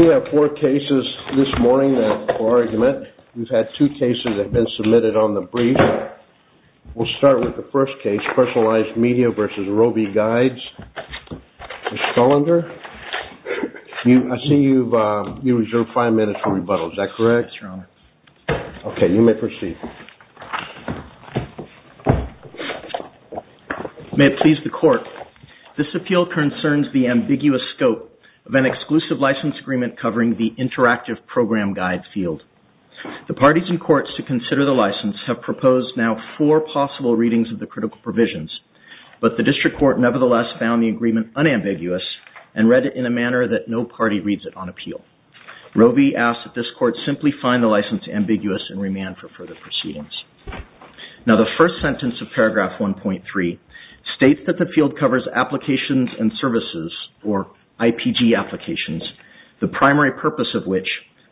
We have four cases this morning for argument. We've had two cases that have been submitted on the brief. We'll start with the first case, Personalized Media v. Rovi Guides. Ms. Scullander, I see you've reserved five minutes for rebuttal. Is that correct? Yes, Your Honor. Okay, you may proceed. May it please the Court, this appeal concerns the ambiguous scope of an exclusive license agreement covering the Interactive Program Guide field. The parties and courts to consider the license have proposed now four possible readings of the critical provisions, but the District Court nevertheless found the agreement unambiguous and read it in a manner that no party reads it on appeal. Rovi asks that this Court simply find the license ambiguous and remand for further proceedings. Now, the first sentence of paragraph 1.3 states that the field covers applications and services, or IPG applications, the primary purpose of which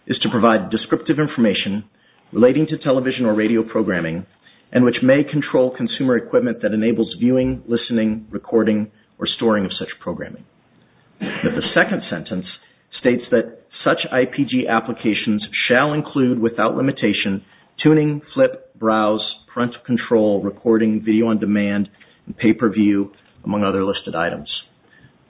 is to provide descriptive information relating to television or radio programming and which may control consumer equipment that enables viewing, listening, recording, or storing of such programming. But the second sentence states that such IPG applications shall include, without limitation, tuning, flip, browse, parental control, recording, video on demand, and pay-per-view, among other listed items.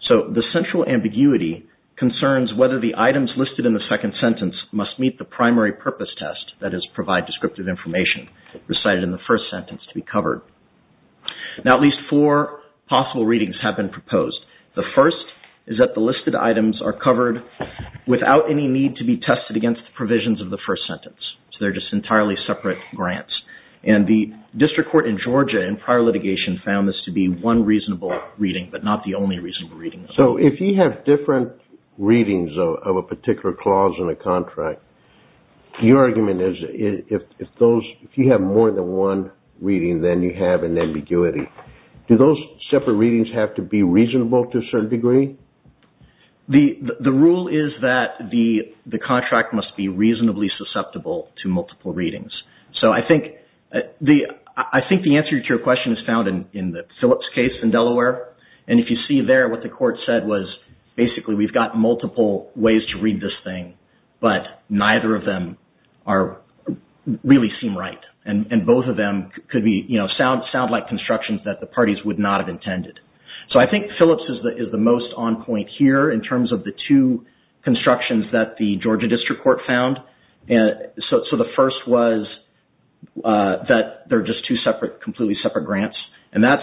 So, the central ambiguity concerns whether the items listed in the second sentence must meet the primary purpose test, that is, provide descriptive information recited in the first sentence to be covered. Now, at least four possible readings have been proposed. The first is that the listed items are covered without any need to be tested against the provisions of the first sentence. So, they're just entirely separate grants. And the District Court in Georgia in prior litigation found this to be one reasonable reading, but not the only reasonable reading. So, if you have different readings of a particular clause in a contract, your argument is if you have more than one reading, then you have an ambiguity. Do those separate readings have to be reasonable to a certain degree? The rule is that the contract must be reasonably susceptible to multiple readings. So, I think the answer to your question is found in the Phillips case in Delaware. And if you see there, what the court said was, basically, we've got multiple ways to read this thing, but neither of them really seem right. And both of them sound like constructions that the parties would not have intended. So, I think Phillips is the most on point here in terms of the two constructions that the Georgia District Court found. So, the first was that they're just two completely separate grants. And that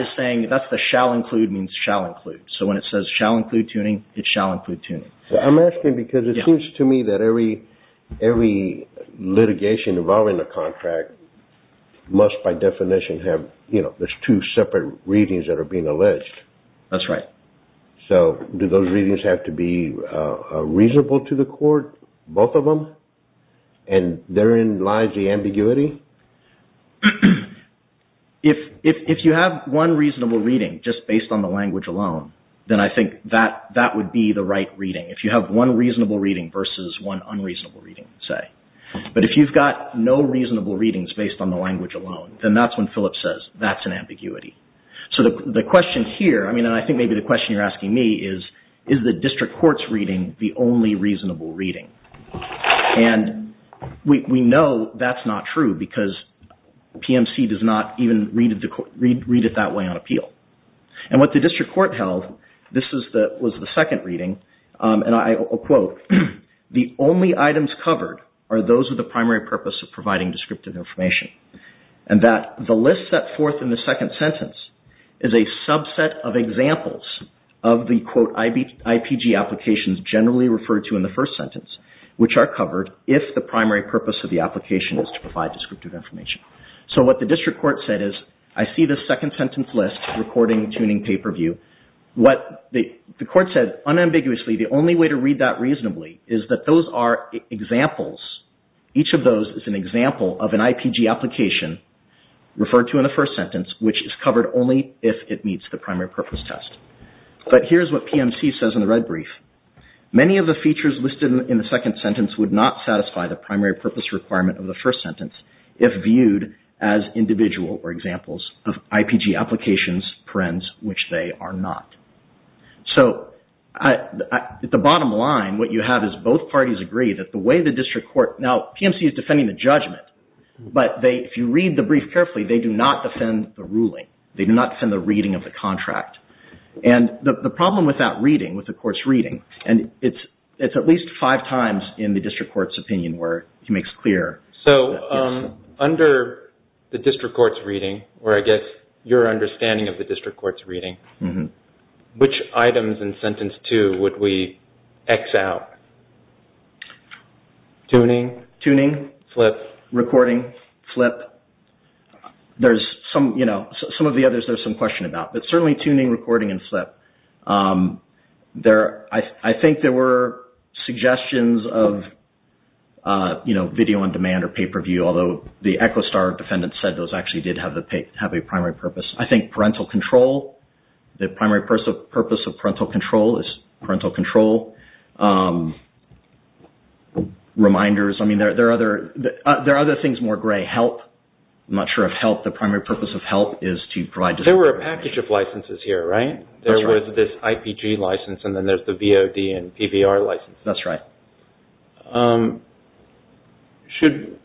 is saying that the shall include means shall include. So, when it says shall include tuning, it shall include tuning. I'm asking because it seems to me that every litigation involving a contract must by definition have, you know, there's two separate readings that are being alleged. That's right. So, do those readings have to be reasonable to the court, both of them? And therein lies the ambiguity? If you have one reasonable reading just based on the language alone, then I think that would be the right reading. If you have one reasonable reading versus one unreasonable reading, say. But if you've got no reasonable readings based on the language alone, then that's when Phillips says that's an ambiguity. So, the question here, I mean, and I think maybe the question you're asking me is, is the district court's reading the only reasonable reading? And we know that's not true because PMC does not even read it that way on appeal. And what the district court held, this was the second reading, and I will quote, the only items covered are those with the primary purpose of providing descriptive information. And that the list set forth in the second sentence is a subset of examples of the, quote, which are covered if the primary purpose of the application is to provide descriptive information. So, what the district court said is, I see this second sentence list, recording, tuning, pay-per-view. What the court said unambiguously, the only way to read that reasonably is that those are examples. Each of those is an example of an IPG application referred to in the first sentence, which is covered only if it meets the primary purpose test. But here's what PMC says in the red brief. Many of the features listed in the second sentence would not satisfy the primary purpose requirement of the first sentence if viewed as individual or examples of IPG applications, which they are not. So, at the bottom line, what you have is both parties agree that the way the district court, now PMC is defending the judgment, but if you read the brief carefully, they do not defend the ruling. They do not defend the reading of the contract. And the problem with that reading, with the court's reading, and it's at least five times in the district court's opinion where he makes clear. So, under the district court's reading, or I guess your understanding of the district court's reading, which items in sentence two would we X out? Tuning? Tuning. Flip. Recording? Flip. There's some, you know, some of the others there's some question about, but certainly tuning, recording, and flip. I think there were suggestions of, you know, video on demand or pay-per-view, although the ECHOSTAR defendant said those actually did have a primary purpose. I think parental control, the primary purpose of parental control is parental control. Reminders. I mean, there are other things more gray. Help. I'm not sure of help. The primary purpose of help is to provide. There were a package of licenses here, right? That's right. There was this IPG license, and then there's the VOD and PBR license. That's right. Should,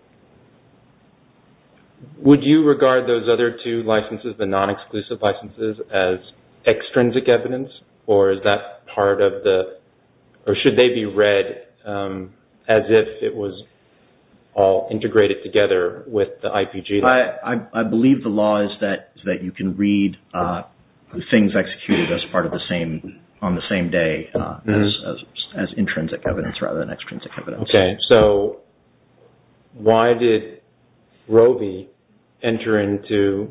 would you regard those other two licenses, the non-exclusive licenses, as extrinsic evidence, or is that part of the, or should they be read as if it was all integrated together with the IPG? I believe the law is that you can read things executed as part of the same, on the same day, as intrinsic evidence rather than extrinsic evidence. Okay. So, why did Roe v. enter into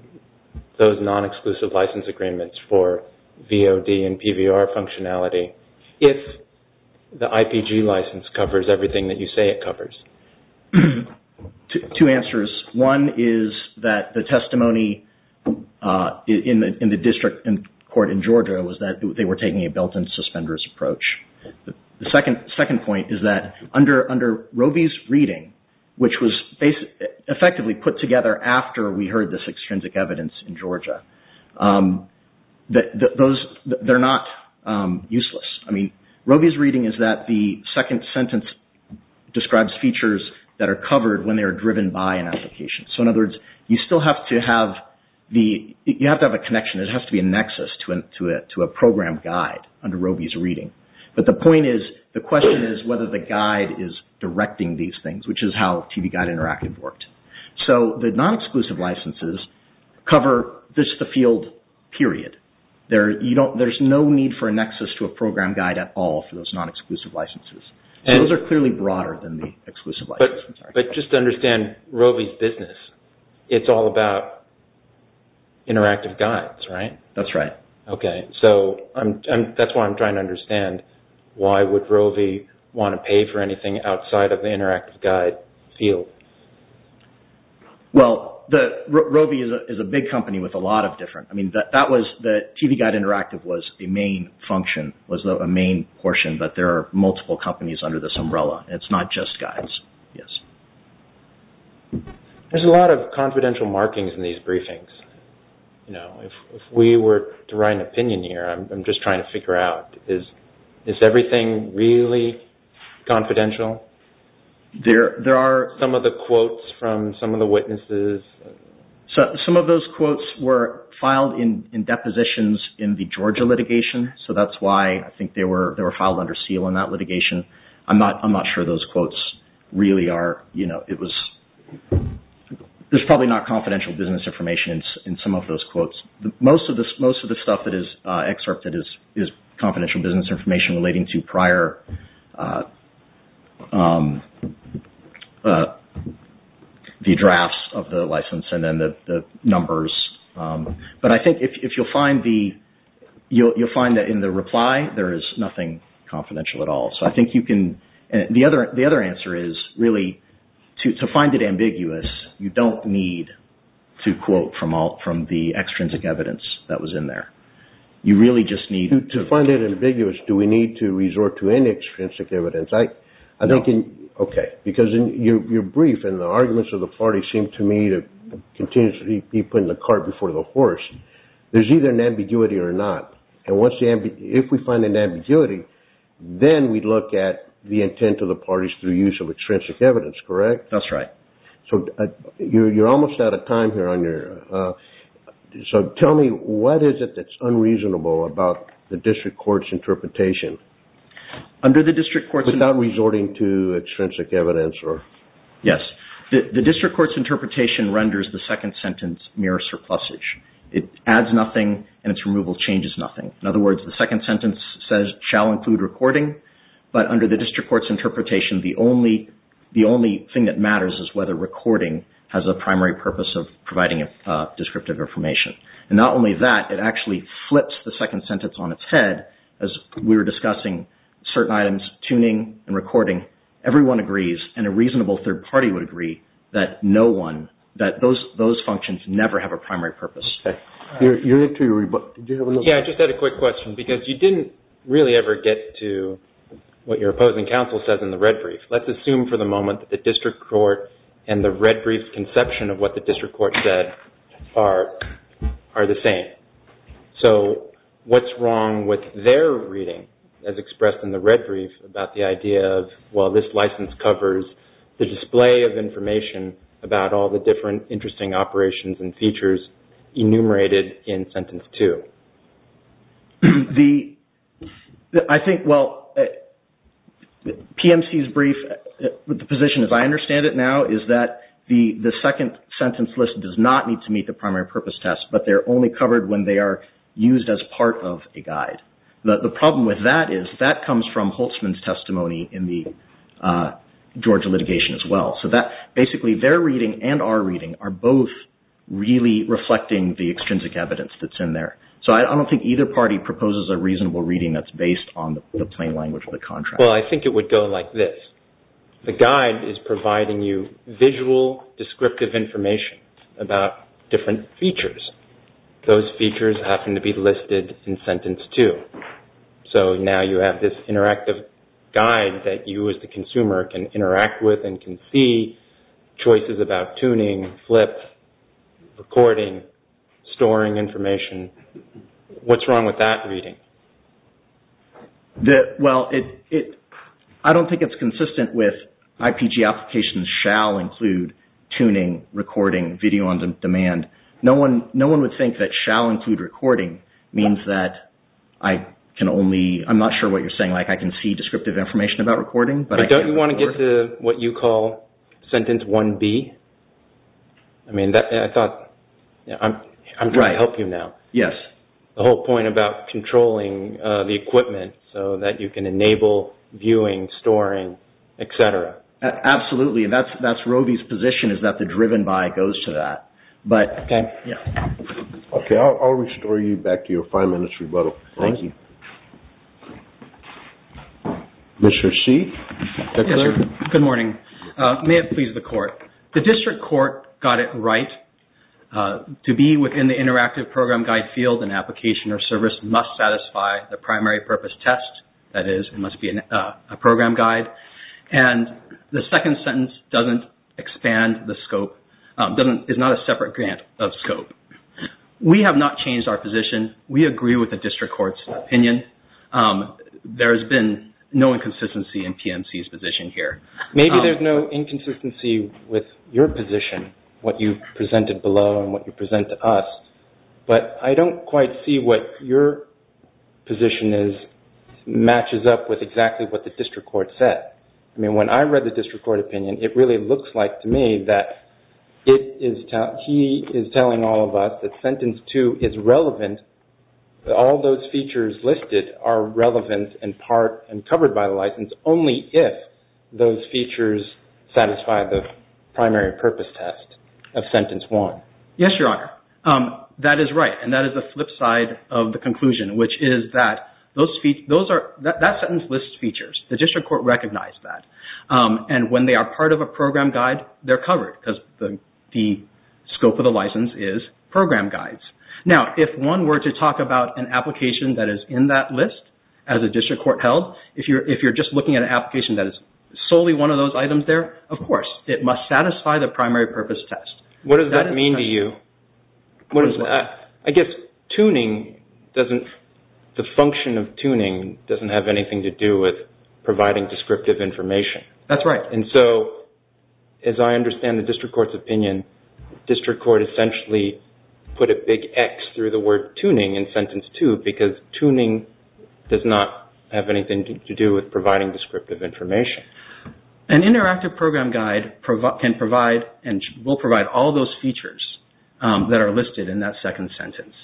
those non-exclusive license agreements for VOD and PBR functionality if the IPG license covers everything that you say it covers? Two answers. One is that the testimony in the district court in Georgia was that they were taking a belt-and-suspenders approach. The second point is that under Roe v.'s reading, which was effectively put together after we heard this extrinsic evidence in Georgia, that those, they're not useless. I mean, Roe v.'s reading is that the second sentence describes features that are covered when they are driven by an application. So, in other words, you still have to have the, you have to have a connection. It has to be a nexus to a program guide under Roe v.'s reading. But the point is, the question is whether the guide is directing these things, which is how TV Guide Interactive worked. So, the non-exclusive licenses cover just the field period. There's no need for a nexus to a program guide at all for those non-exclusive licenses. Those are clearly broader than the exclusive licenses. But just to understand Roe v.'s business, it's all about interactive guides, right? That's right. Okay. So, that's why I'm trying to understand why would Roe v. want to pay for anything outside of the interactive guide field? Well, Roe v. is a big company with a lot of different, I mean, that was, the TV Guide Interactive was a main function, but there are multiple companies under this umbrella. It's not just guides. Yes. There's a lot of confidential markings in these briefings. You know, if we were to write an opinion here, I'm just trying to figure out, is everything really confidential? There are some of the quotes from some of the witnesses. Some of those quotes were filed in depositions in the Georgia litigation. So, that's why I think they were filed under seal in that litigation. I'm not sure those quotes really are, you know, it was, there's probably not confidential business information in some of those quotes. Most of the stuff that is excerpted is confidential business information relating to prior, the drafts of the license and then the numbers. But I think if you'll find the, you'll find that in the reply, there is nothing confidential at all. The other answer is, really, to find it ambiguous, you don't need to quote from the extrinsic evidence that was in there. You really just need to… To find it ambiguous, do we need to resort to any extrinsic evidence? I don't think… Okay. Because you're brief and the arguments of the party seem to me to continuously be putting the cart before the horse. There's either an ambiguity or not. If we find an ambiguity, then we look at the intent of the parties through use of extrinsic evidence, correct? That's right. So, you're almost out of time here. So, tell me, what is it that's unreasonable about the district court's interpretation? Under the district court's… Without resorting to extrinsic evidence or… Yes. The district court's interpretation renders the second sentence mere surplusage. It adds nothing and its removal changes nothing. In other words, the second sentence says, shall include recording, but under the district court's interpretation, the only thing that matters is whether recording has a primary purpose of providing descriptive information. And not only that, it actually flips the second sentence on its head. As we were discussing certain items, tuning and recording, everyone agrees and a reasonable third party would agree that no one, that those functions never have a primary purpose. Okay. You need to… Yeah, I just had a quick question because you didn't really ever get to what your opposing counsel says in the red brief. Let's assume for the moment that the district court and the red brief conception of what the district court said are the same. So, what's wrong with their reading as expressed in the red brief about the idea of, well, this license covers the display of information about all the different interesting operations and features enumerated in sentence two? I think, well, PMC's brief, the position as I understand it now is that the second sentence list does not need to meet the primary purpose test, but they're only covered when they are used as part of a guide. The problem with that is that comes from Holtzman's testimony in the Georgia litigation as well. So, basically, their reading and our reading are both really reflecting the extrinsic evidence that's in there. So, I don't think either party proposes a reasonable reading that's based on the plain language of the contract. Well, I think it would go like this. The guide is providing you visual descriptive information about different features. Those features happen to be listed in sentence two. So, now you have this interactive guide that you as the consumer can interact with and can see choices about tuning, flips, recording, storing information. What's wrong with that reading? Well, I don't think it's consistent with IPG applications shall include tuning, recording, video on demand. No one would think that shall include recording means that I can only, I'm not sure what you're saying, like I can see descriptive information about recording, but I can't record. But don't you want to get to what you call sentence 1B? I mean, I thought, I'm trying to help you now. Yes. The whole point about controlling the equipment so that you can enable viewing, storing, etc. Absolutely. That's Roby's position is that the driven by goes to that. Okay. Yes. Okay. I'll restore you back to your five minutes rebuttal. Thank you. Mr. C? Yes, sir. Good morning. May it please the court. The district court got it right to be within the interactive program guide field and application or service must satisfy the primary purpose test. That is, it must be a program guide. And the second sentence doesn't expand the scope, is not a separate grant of scope. We have not changed our position. We agree with the district court's opinion. There has been no inconsistency in PMC's position here. Maybe there's no inconsistency with your position, what you've presented below and what you present to us. But I don't quite see what your position is matches up with exactly what the district court said. I mean, when I read the district court opinion, it really looks like to me that he is telling all of us that sentence 2 is relevant. All those features listed are relevant in part and covered by the license only if those features satisfy the primary purpose test of sentence 1. Yes, Your Honor. That is right, and that is the flip side of the conclusion, which is that that sentence lists features. The district court recognized that. And when they are part of a program guide, they're covered because the scope of the license is program guides. Now, if one were to talk about an application that is in that list as a district court held, if you're just looking at an application that is solely one of those items there, of course it must satisfy the primary purpose test. What does that mean to you? I guess the function of tuning doesn't have anything to do with providing descriptive information. That's right. And so, as I understand the district court's opinion, district court essentially put a big X through the word tuning in sentence 2 because tuning does not have anything to do with providing descriptive information. An interactive program guide can provide and will provide all those features that are listed in that second sentence.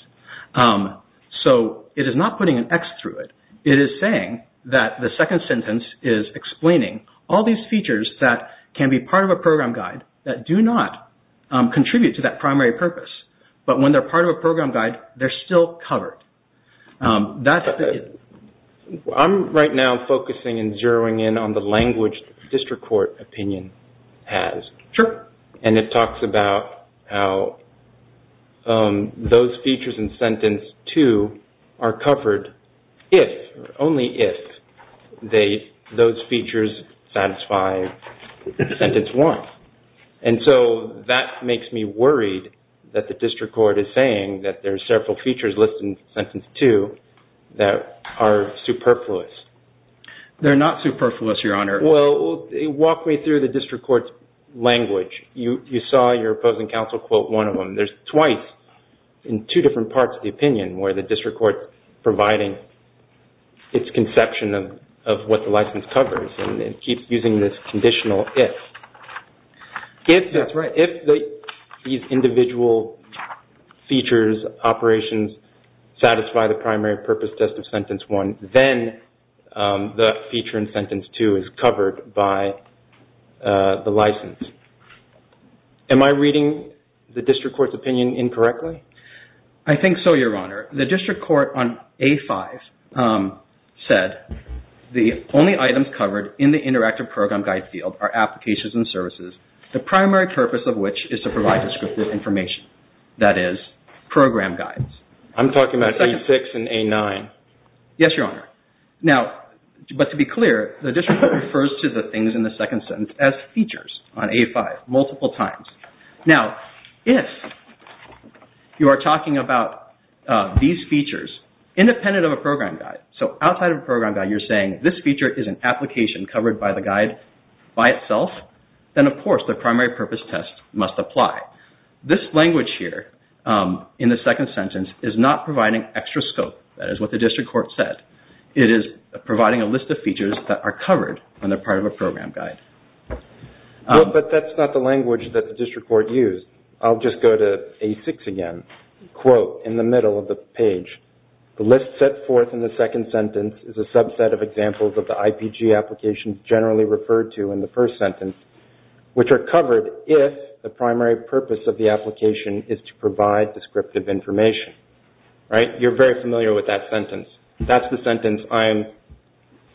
So, it is not putting an X through it. It is saying that the second sentence is explaining all these features that can be part of a program guide that do not contribute to that primary purpose. But when they're part of a program guide, they're still covered. I'm right now focusing and zeroing in on the language district court opinion has. Sure. And it talks about how those features in sentence 2 are covered only if those features satisfy sentence 1. And so, that makes me worried that the district court is saying that there are several features listed in sentence 2 that are superfluous. They're not superfluous, Your Honor. Well, walk me through the district court's language. You saw your opposing counsel quote one of them. There's twice in two different parts of the opinion where the district court is providing its conception of what the license covers and keeps using this conditional if. That's right. If these individual features, operations, satisfy the primary purpose test of sentence 1, then the feature in sentence 2 is covered by the license. Am I reading the district court's opinion incorrectly? I think so, Your Honor. The district court on A5 said, the only items covered in the interactive program guide field are applications and services, the primary purpose of which is to provide descriptive information. That is, program guides. I'm talking about A6 and A9. Yes, Your Honor. Now, but to be clear, the district court refers to the things in the second sentence as features on A5 multiple times. Now, if you are talking about these features independent of a program guide, so outside of a program guide you're saying this feature is an application covered by the guide by itself, then of course the primary purpose test must apply. This language here in the second sentence is not providing extra scope. That is what the district court said. It is providing a list of features that are covered when they're part of a program guide. But that's not the language that the district court used. I'll just go to A6 again. Quote in the middle of the page, the list set forth in the second sentence is a subset of examples of the IPG applications generally referred to in the first sentence, which are covered if the primary purpose of the application is to provide descriptive information. You're very familiar with that sentence. That's the sentence I'm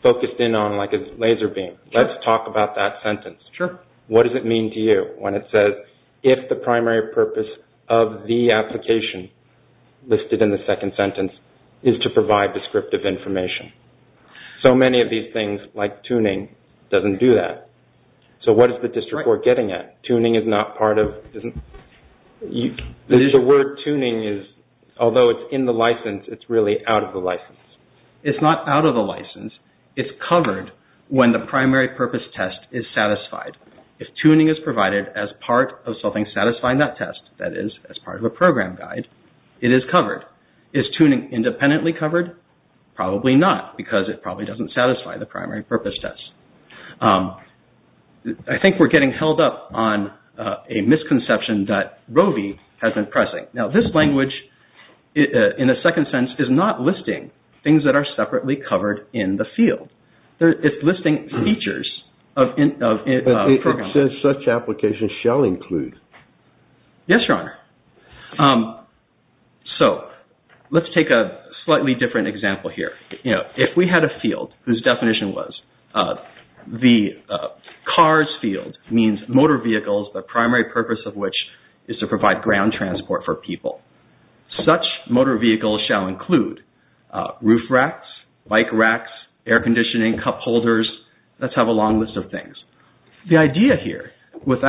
focused in on like a laser beam. Let's talk about that sentence. What does it mean to you when it says, if the primary purpose of the application listed in the second sentence is to provide descriptive information? So many of these things, like tuning, doesn't do that. So what is the district court getting at? Tuning is not part of... The word tuning is, although it's in the license, it's really out of the license. It's not out of the license. It's covered when the primary purpose test is satisfied. If tuning is provided as part of something satisfying that test, that is, as part of a program guide, it is covered. Is tuning independently covered? Probably not, because it probably doesn't satisfy the primary purpose test. I think we're getting held up on a misconception that Roe v. has been pressing. Now this language, in a second sentence, is not listing things that are separately covered in the field. It's listing features of programs. It says such applications shall include. Yes, Your Honor. So let's take a slightly different example here. If we had a field whose definition was the cars field, means motor vehicles, the primary purpose of which is to provide ground transport for people. Such motor vehicles shall include roof racks, bike racks, air conditioning, cup holders. Let's have a long list of things. The idea here, with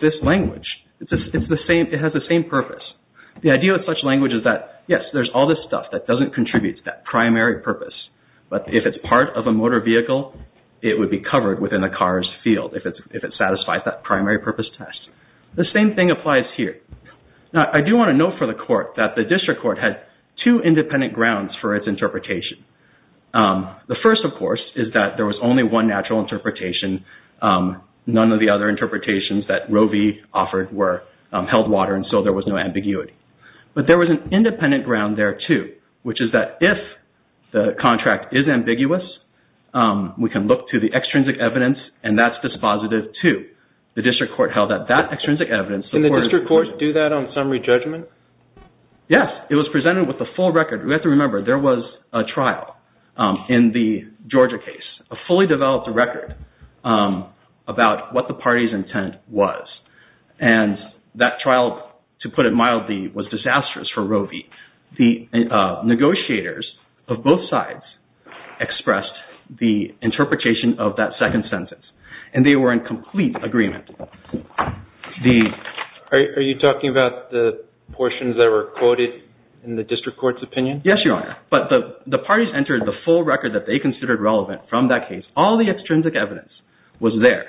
this language, it has the same purpose. The idea of such language is that, yes, there's all this stuff that doesn't contribute to that primary purpose. But if it's part of a motor vehicle, it would be covered within the cars field, if it satisfies that primary purpose test. The same thing applies here. Now I do want to note for the court that the district court had two independent grounds for its interpretation. The first, of course, is that there was only one natural interpretation. None of the other interpretations that Roe v. offered were held water, and so there was no ambiguity. But there was an independent ground there, too, which is that if the contract is ambiguous, we can look to the extrinsic evidence, and that's dispositive, too. The district court held that that extrinsic evidence... Can the district court do that on summary judgment? Yes. It was presented with a full record. We have to remember there was a trial in the Georgia case, a fully developed record, about what the party's intent was. And that trial, to put it mildly, was disastrous for Roe v. The negotiators of both sides expressed the interpretation of that second sentence, and they were in complete agreement. Are you talking about the portions that were quoted in the district court's opinion? Yes, Your Honor. But the parties entered the full record that they considered relevant from that case. All the extrinsic evidence was there.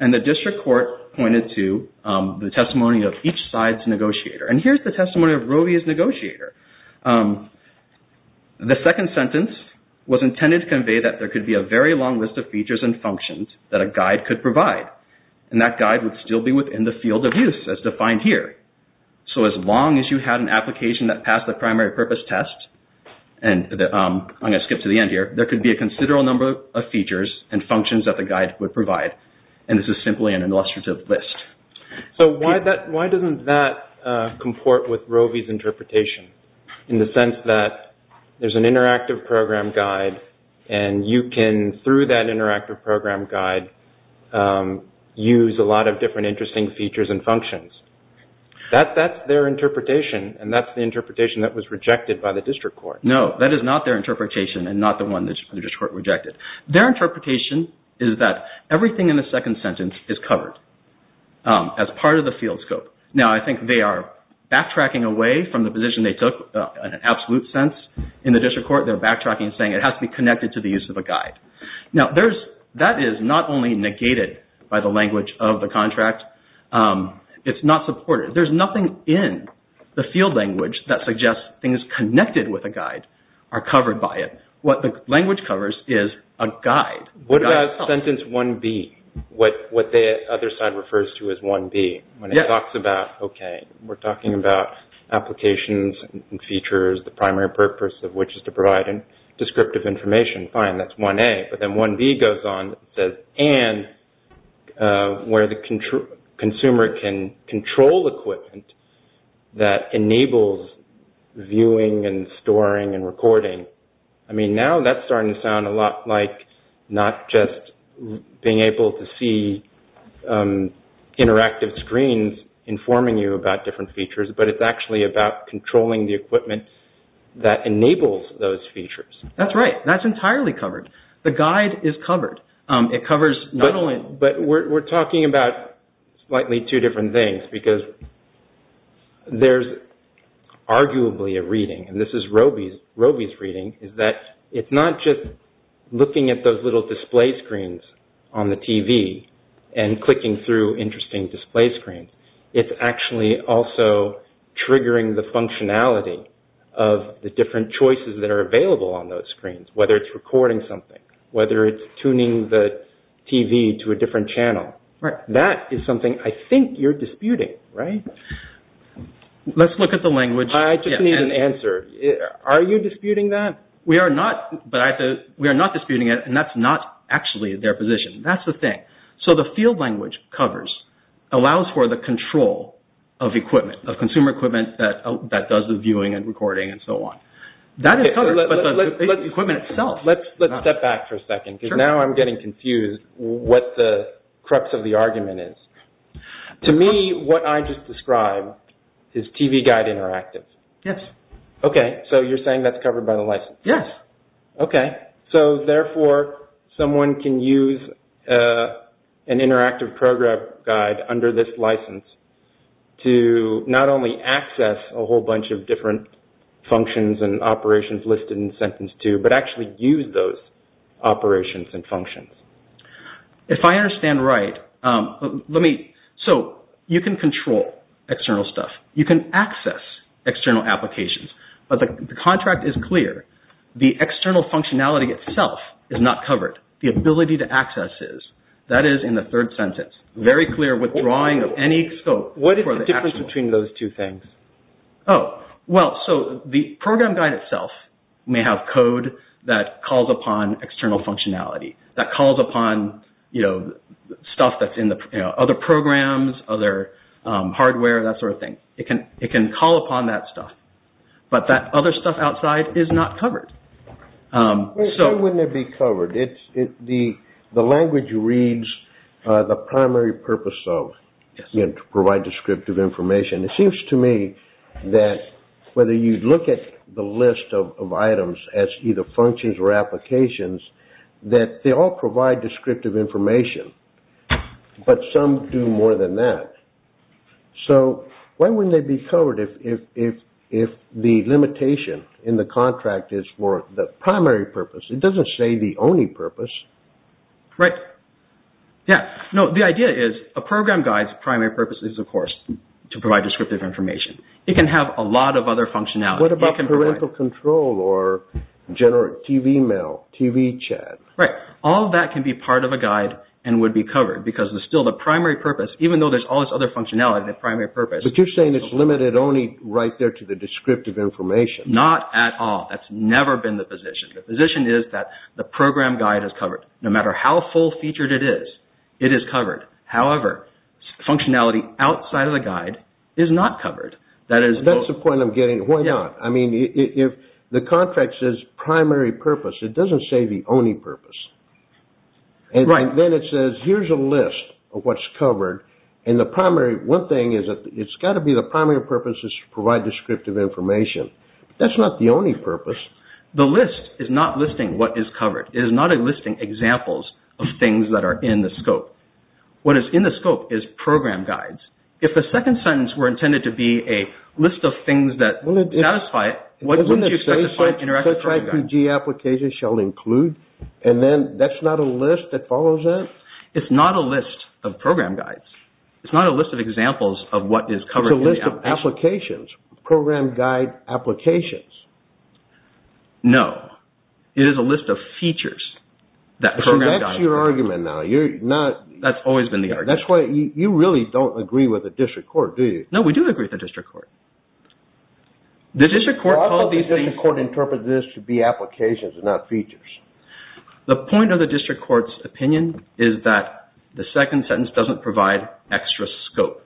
And the district court pointed to the testimony of each side's negotiator. And here's the testimony of Roe v. his negotiator. The second sentence was intended to convey that there could be a very long list of features and functions that a guide could provide, and that guide would still be within the field of use as defined here. So as long as you had an application that passed the primary purpose test, and I'm going to skip to the end here, there could be a considerable number of features and functions that the guide would provide. And this is simply an illustrative list. So why doesn't that comport with Roe v. his interpretation in the sense that there's an interactive program guide, and you can, through that interactive program guide, use a lot of different interesting features and functions? That's their interpretation, and that's the interpretation that was rejected by the district court. No, that is not their interpretation and not the one that the district court rejected. Their interpretation is that everything in the second sentence is covered as part of the field scope. Now, I think they are backtracking away from the position they took in an absolute sense in the district court. They're backtracking and saying it has to be connected to the use of a guide. Now, that is not only negated by the language of the contract, it's not supported. There's nothing in the field language that suggests things connected with a guide are covered by it. What the language covers is a guide. What about sentence 1B, what the other side refers to as 1B, when it talks about, okay, we're talking about applications and features, the primary purpose of which is to provide descriptive information. Fine, that's 1A. But then 1B goes on and says, and where the consumer can control equipment that enables viewing and storing and recording. I mean, now that's starting to sound a lot like not just being able to see interactive screens informing you about different features, but it's actually about controlling the equipment that enables those features. That's right. That's entirely covered. The guide is covered. It covers not only... But we're talking about slightly two different things because there's arguably a reading, and this is Roby's reading, is that it's not just looking at those little display screens on the TV and clicking through interesting display screens. It's actually also triggering the functionality of the different choices that are available on those screens, whether it's recording something, whether it's tuning the TV to a different channel. That is something I think you're disputing, right? Let's look at the language. I just need an answer. Are you disputing that? We are not disputing it, and that's not actually their position. That's the thing. The field language covers, allows for the control of equipment, of consumer equipment that does the viewing and recording and so on. That is covered, but the equipment itself... Let's step back for a second because now I'm getting confused what the crux of the argument is. To me, what I just described is TV Guide Interactive. Yes. Okay, so you're saying that's covered by the license? Yes. Okay, so therefore someone can use an interactive program guide under this license to not only access a whole bunch of different functions and operations listed in sentence two, but actually use those operations and functions. If I understand right, you can control external stuff. You can access external applications, but the contract is clear. The external functionality itself is not covered. The ability to access is. That is in the third sentence. Very clear withdrawing of any scope. What is the difference between those two things? Oh, well, so the program guide itself may have code that calls upon external functionality, that calls upon stuff that's in other programs, other hardware, that sort of thing. It can call upon that stuff, but that other stuff outside is not covered. Why wouldn't it be covered? The language reads the primary purpose of, you know, to provide descriptive information. It seems to me that whether you look at the list of items as either functions or applications, that they all provide descriptive information, but some do more than that. So, why wouldn't they be covered if the limitation in the contract is for the primary purpose? It doesn't say the only purpose. Right. Yeah. No, the idea is a program guide's primary purpose is, of course, to provide descriptive information. It can have a lot of other functionality. What about parental control or TV mail, TV chat? Right. All of that can be part of a guide and would be covered because it's still the primary purpose, even though there's all this other functionality, the primary purpose. But you're saying it's limited only right there to the descriptive information. Not at all. That's never been the position. The position is that the program guide is covered. No matter how full-featured it is, it is covered. However, functionality outside of the guide is not covered. That's the point I'm getting. Why not? I mean, if the contract says primary purpose, it doesn't say the only purpose. Right. Then it says here's a list of what's covered. One thing is that it's got to be the primary purpose is to provide descriptive information. That's not the only purpose. The list is not listing what is covered. It is not listing examples of things that are in the scope. What is in the scope is program guides. If the second sentence were intended to be a list of things that satisfy it, wouldn't you expect to find interactive program guides? And then that's not a list that follows it? It's not a list of program guides. It's not a list of examples of what is covered. It's a list of applications. Program guide applications. No. It is a list of features. So that's your argument now. That's always been the argument. That's why you really don't agree with the district court, do you? No, we do agree with the district court. The district court called these things... The district court interpreted this to be applications and not features. The point of the district court's opinion is that the second sentence doesn't provide extra scope.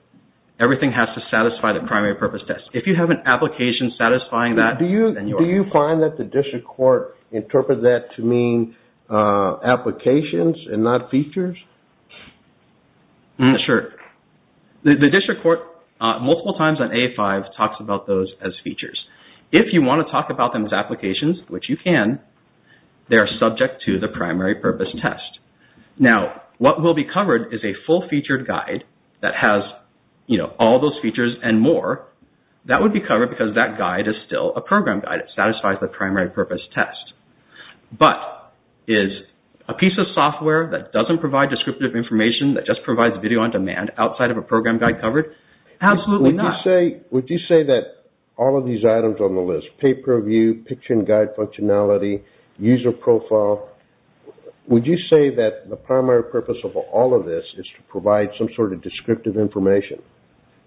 Everything has to satisfy the primary purpose test. If you have an application satisfying that, then you're... Do you find that the district court interpreted that to mean applications and not features? Sure. The district court, multiple times on A5, talks about those as features. If you want to talk about them as applications, which you can, they are subject to the primary purpose test. Now, what will be covered is a full-featured guide that has, you know, all those features and more. That would be covered because that guide is still a program guide. It satisfies the primary purpose test. But is a piece of software that doesn't provide descriptive information, that just provides video on demand, outside of a program guide covered? Absolutely not. Would you say that all of these items on the list, pay-per-view, picture and guide functionality, user profile, would you say that the primary purpose of all of this is to provide some sort of descriptive information?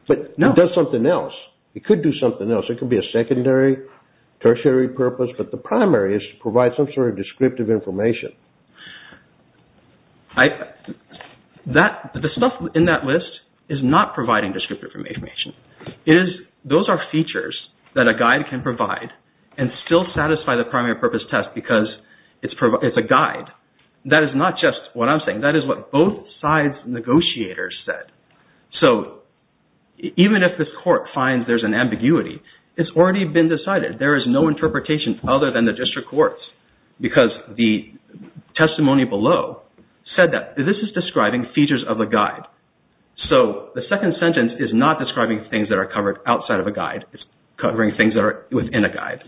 But it does something else. It could do something else. It could be a secondary, tertiary purpose, but the primary is to provide some sort of descriptive information. The stuff in that list is not providing descriptive information. Those are features that a guide can provide and still satisfy the primary purpose test because it's a guide. That is not just what I'm saying. That is what both sides' negotiators said. So, even if this court finds there's an ambiguity, it's already been decided. There is no interpretation other than the district courts because the testimony below said that this is describing features of a guide. So, the second sentence is not describing things that are covered outside of a guide. It's covering things that are within a guide.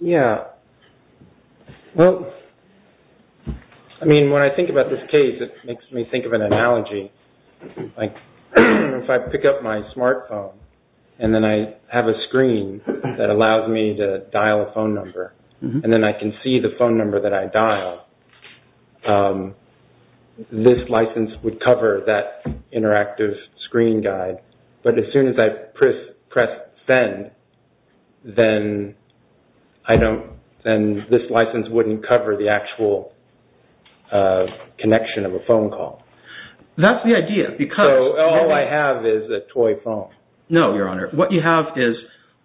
Yeah. I mean, when I think about this case, it makes me think of an analogy. Like, if I pick up my smartphone and then I have a screen that allows me to dial a phone number, and then I can see the phone number that I dialed, this license would cover that interactive screen guide. But as soon as I press send, then this license wouldn't cover the actual connection of a phone call. That's the idea. So, all I have is a toy phone. No, Your Honor. What you have is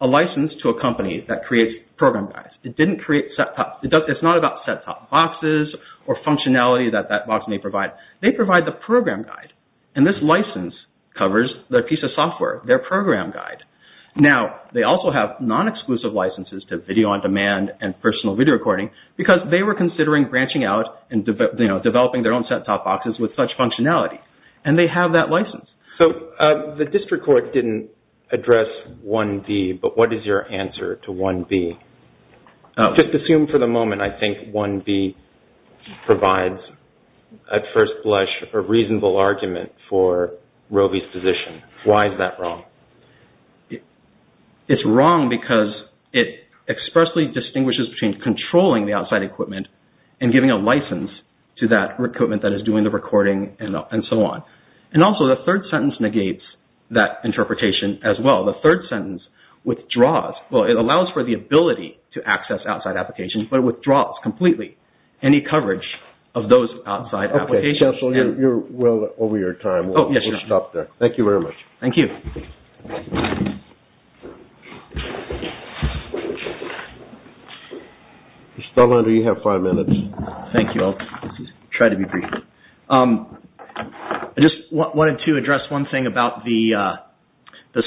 a license to a company that creates program guides. It didn't create set-top boxes or functionality that that box may provide. They provide the program guide, and this license covers their piece of software, their program guide. Now, they also have non-exclusive licenses to video-on-demand and personal video recording because they were considering branching out and developing their own set-top boxes with such functionality, and they have that license. So, the district court didn't address 1B, but what is your answer to 1B? Just assume for the moment I think 1B provides, at first blush, a reasonable argument for Roby's position. Why is that wrong? It's wrong because it expressly distinguishes between controlling the outside equipment and giving a license to that equipment that is doing the recording and so on. And also, the third sentence negates that interpretation as well. The third sentence withdraws. Well, it allows for the ability to access outside applications, but it withdraws completely any coverage of those outside applications. Okay, counsel, you're well over your time. Oh, yes, Your Honor. We'll stop there. Thank you very much. Thank you. Mr. Dallander, you have five minutes. Thank you. I'll try to be brief. I just wanted to address one thing about the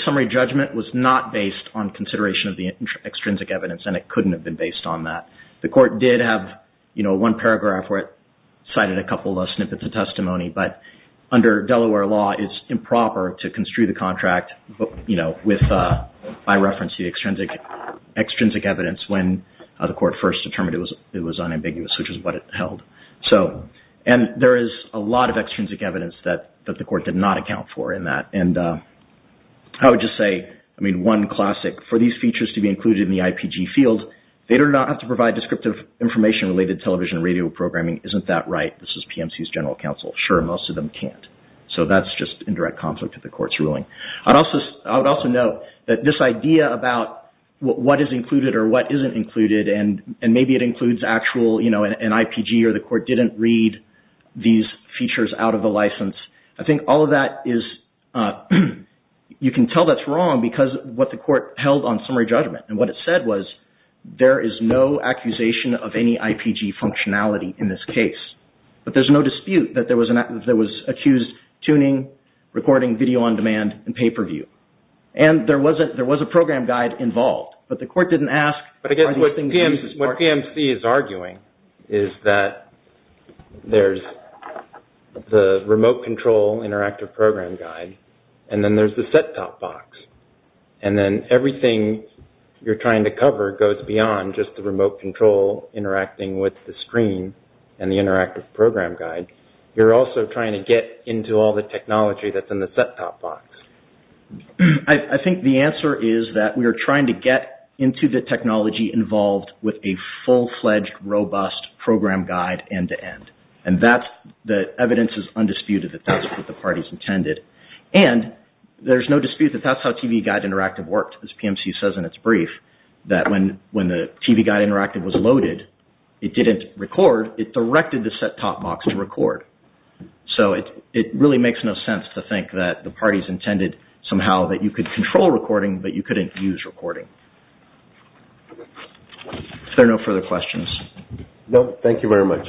summary judgment was not based on consideration of the extrinsic evidence, and it couldn't have been based on that. The court did have one paragraph where it cited a couple of snippets of testimony, but under Delaware law, it's improper to construe the contract by reference to the extrinsic evidence when the court first determined it was unambiguous, which is what it held. And there is a lot of extrinsic evidence that the court did not account for in that. And I would just say, I mean, one classic. For these features to be included in the IPG field, they do not have to provide descriptive information related to television and radio programming. Isn't that right? This is PMC's general counsel. Sure, most of them can't. So that's just indirect conflict with the court's ruling. I would also note that this idea about what is included or what isn't included, and maybe it includes actual, you know, an IPG, or the court didn't read these features out of the license. I think all of that is, you can tell that's wrong because of what the court held on summary judgment. And what it said was, there is no accusation of any IPG functionality in this case. But there's no dispute that there was accused tuning, recording video on demand, and pay-per-view. And there was a program guide involved, but the court didn't ask, But I guess what PMC is arguing is that there's the remote control interactive program guide, and then there's the set-top box. And then everything you're trying to cover goes beyond just the remote control interacting with the screen and the interactive program guide. You're also trying to get into all the technology that's in the set-top box. I think the answer is that we are trying to get into the technology involved with a full-fledged, robust program guide end-to-end. And the evidence is undisputed that that's what the parties intended. And there's no dispute that that's how TV Guide Interactive worked, as PMC says in its brief, that when the TV Guide Interactive was loaded, it didn't record, it directed the set-top box to record. So it really makes no sense to think that the parties intended somehow that you could control recording, but you couldn't use recording. Are there no further questions? No, thank you very much.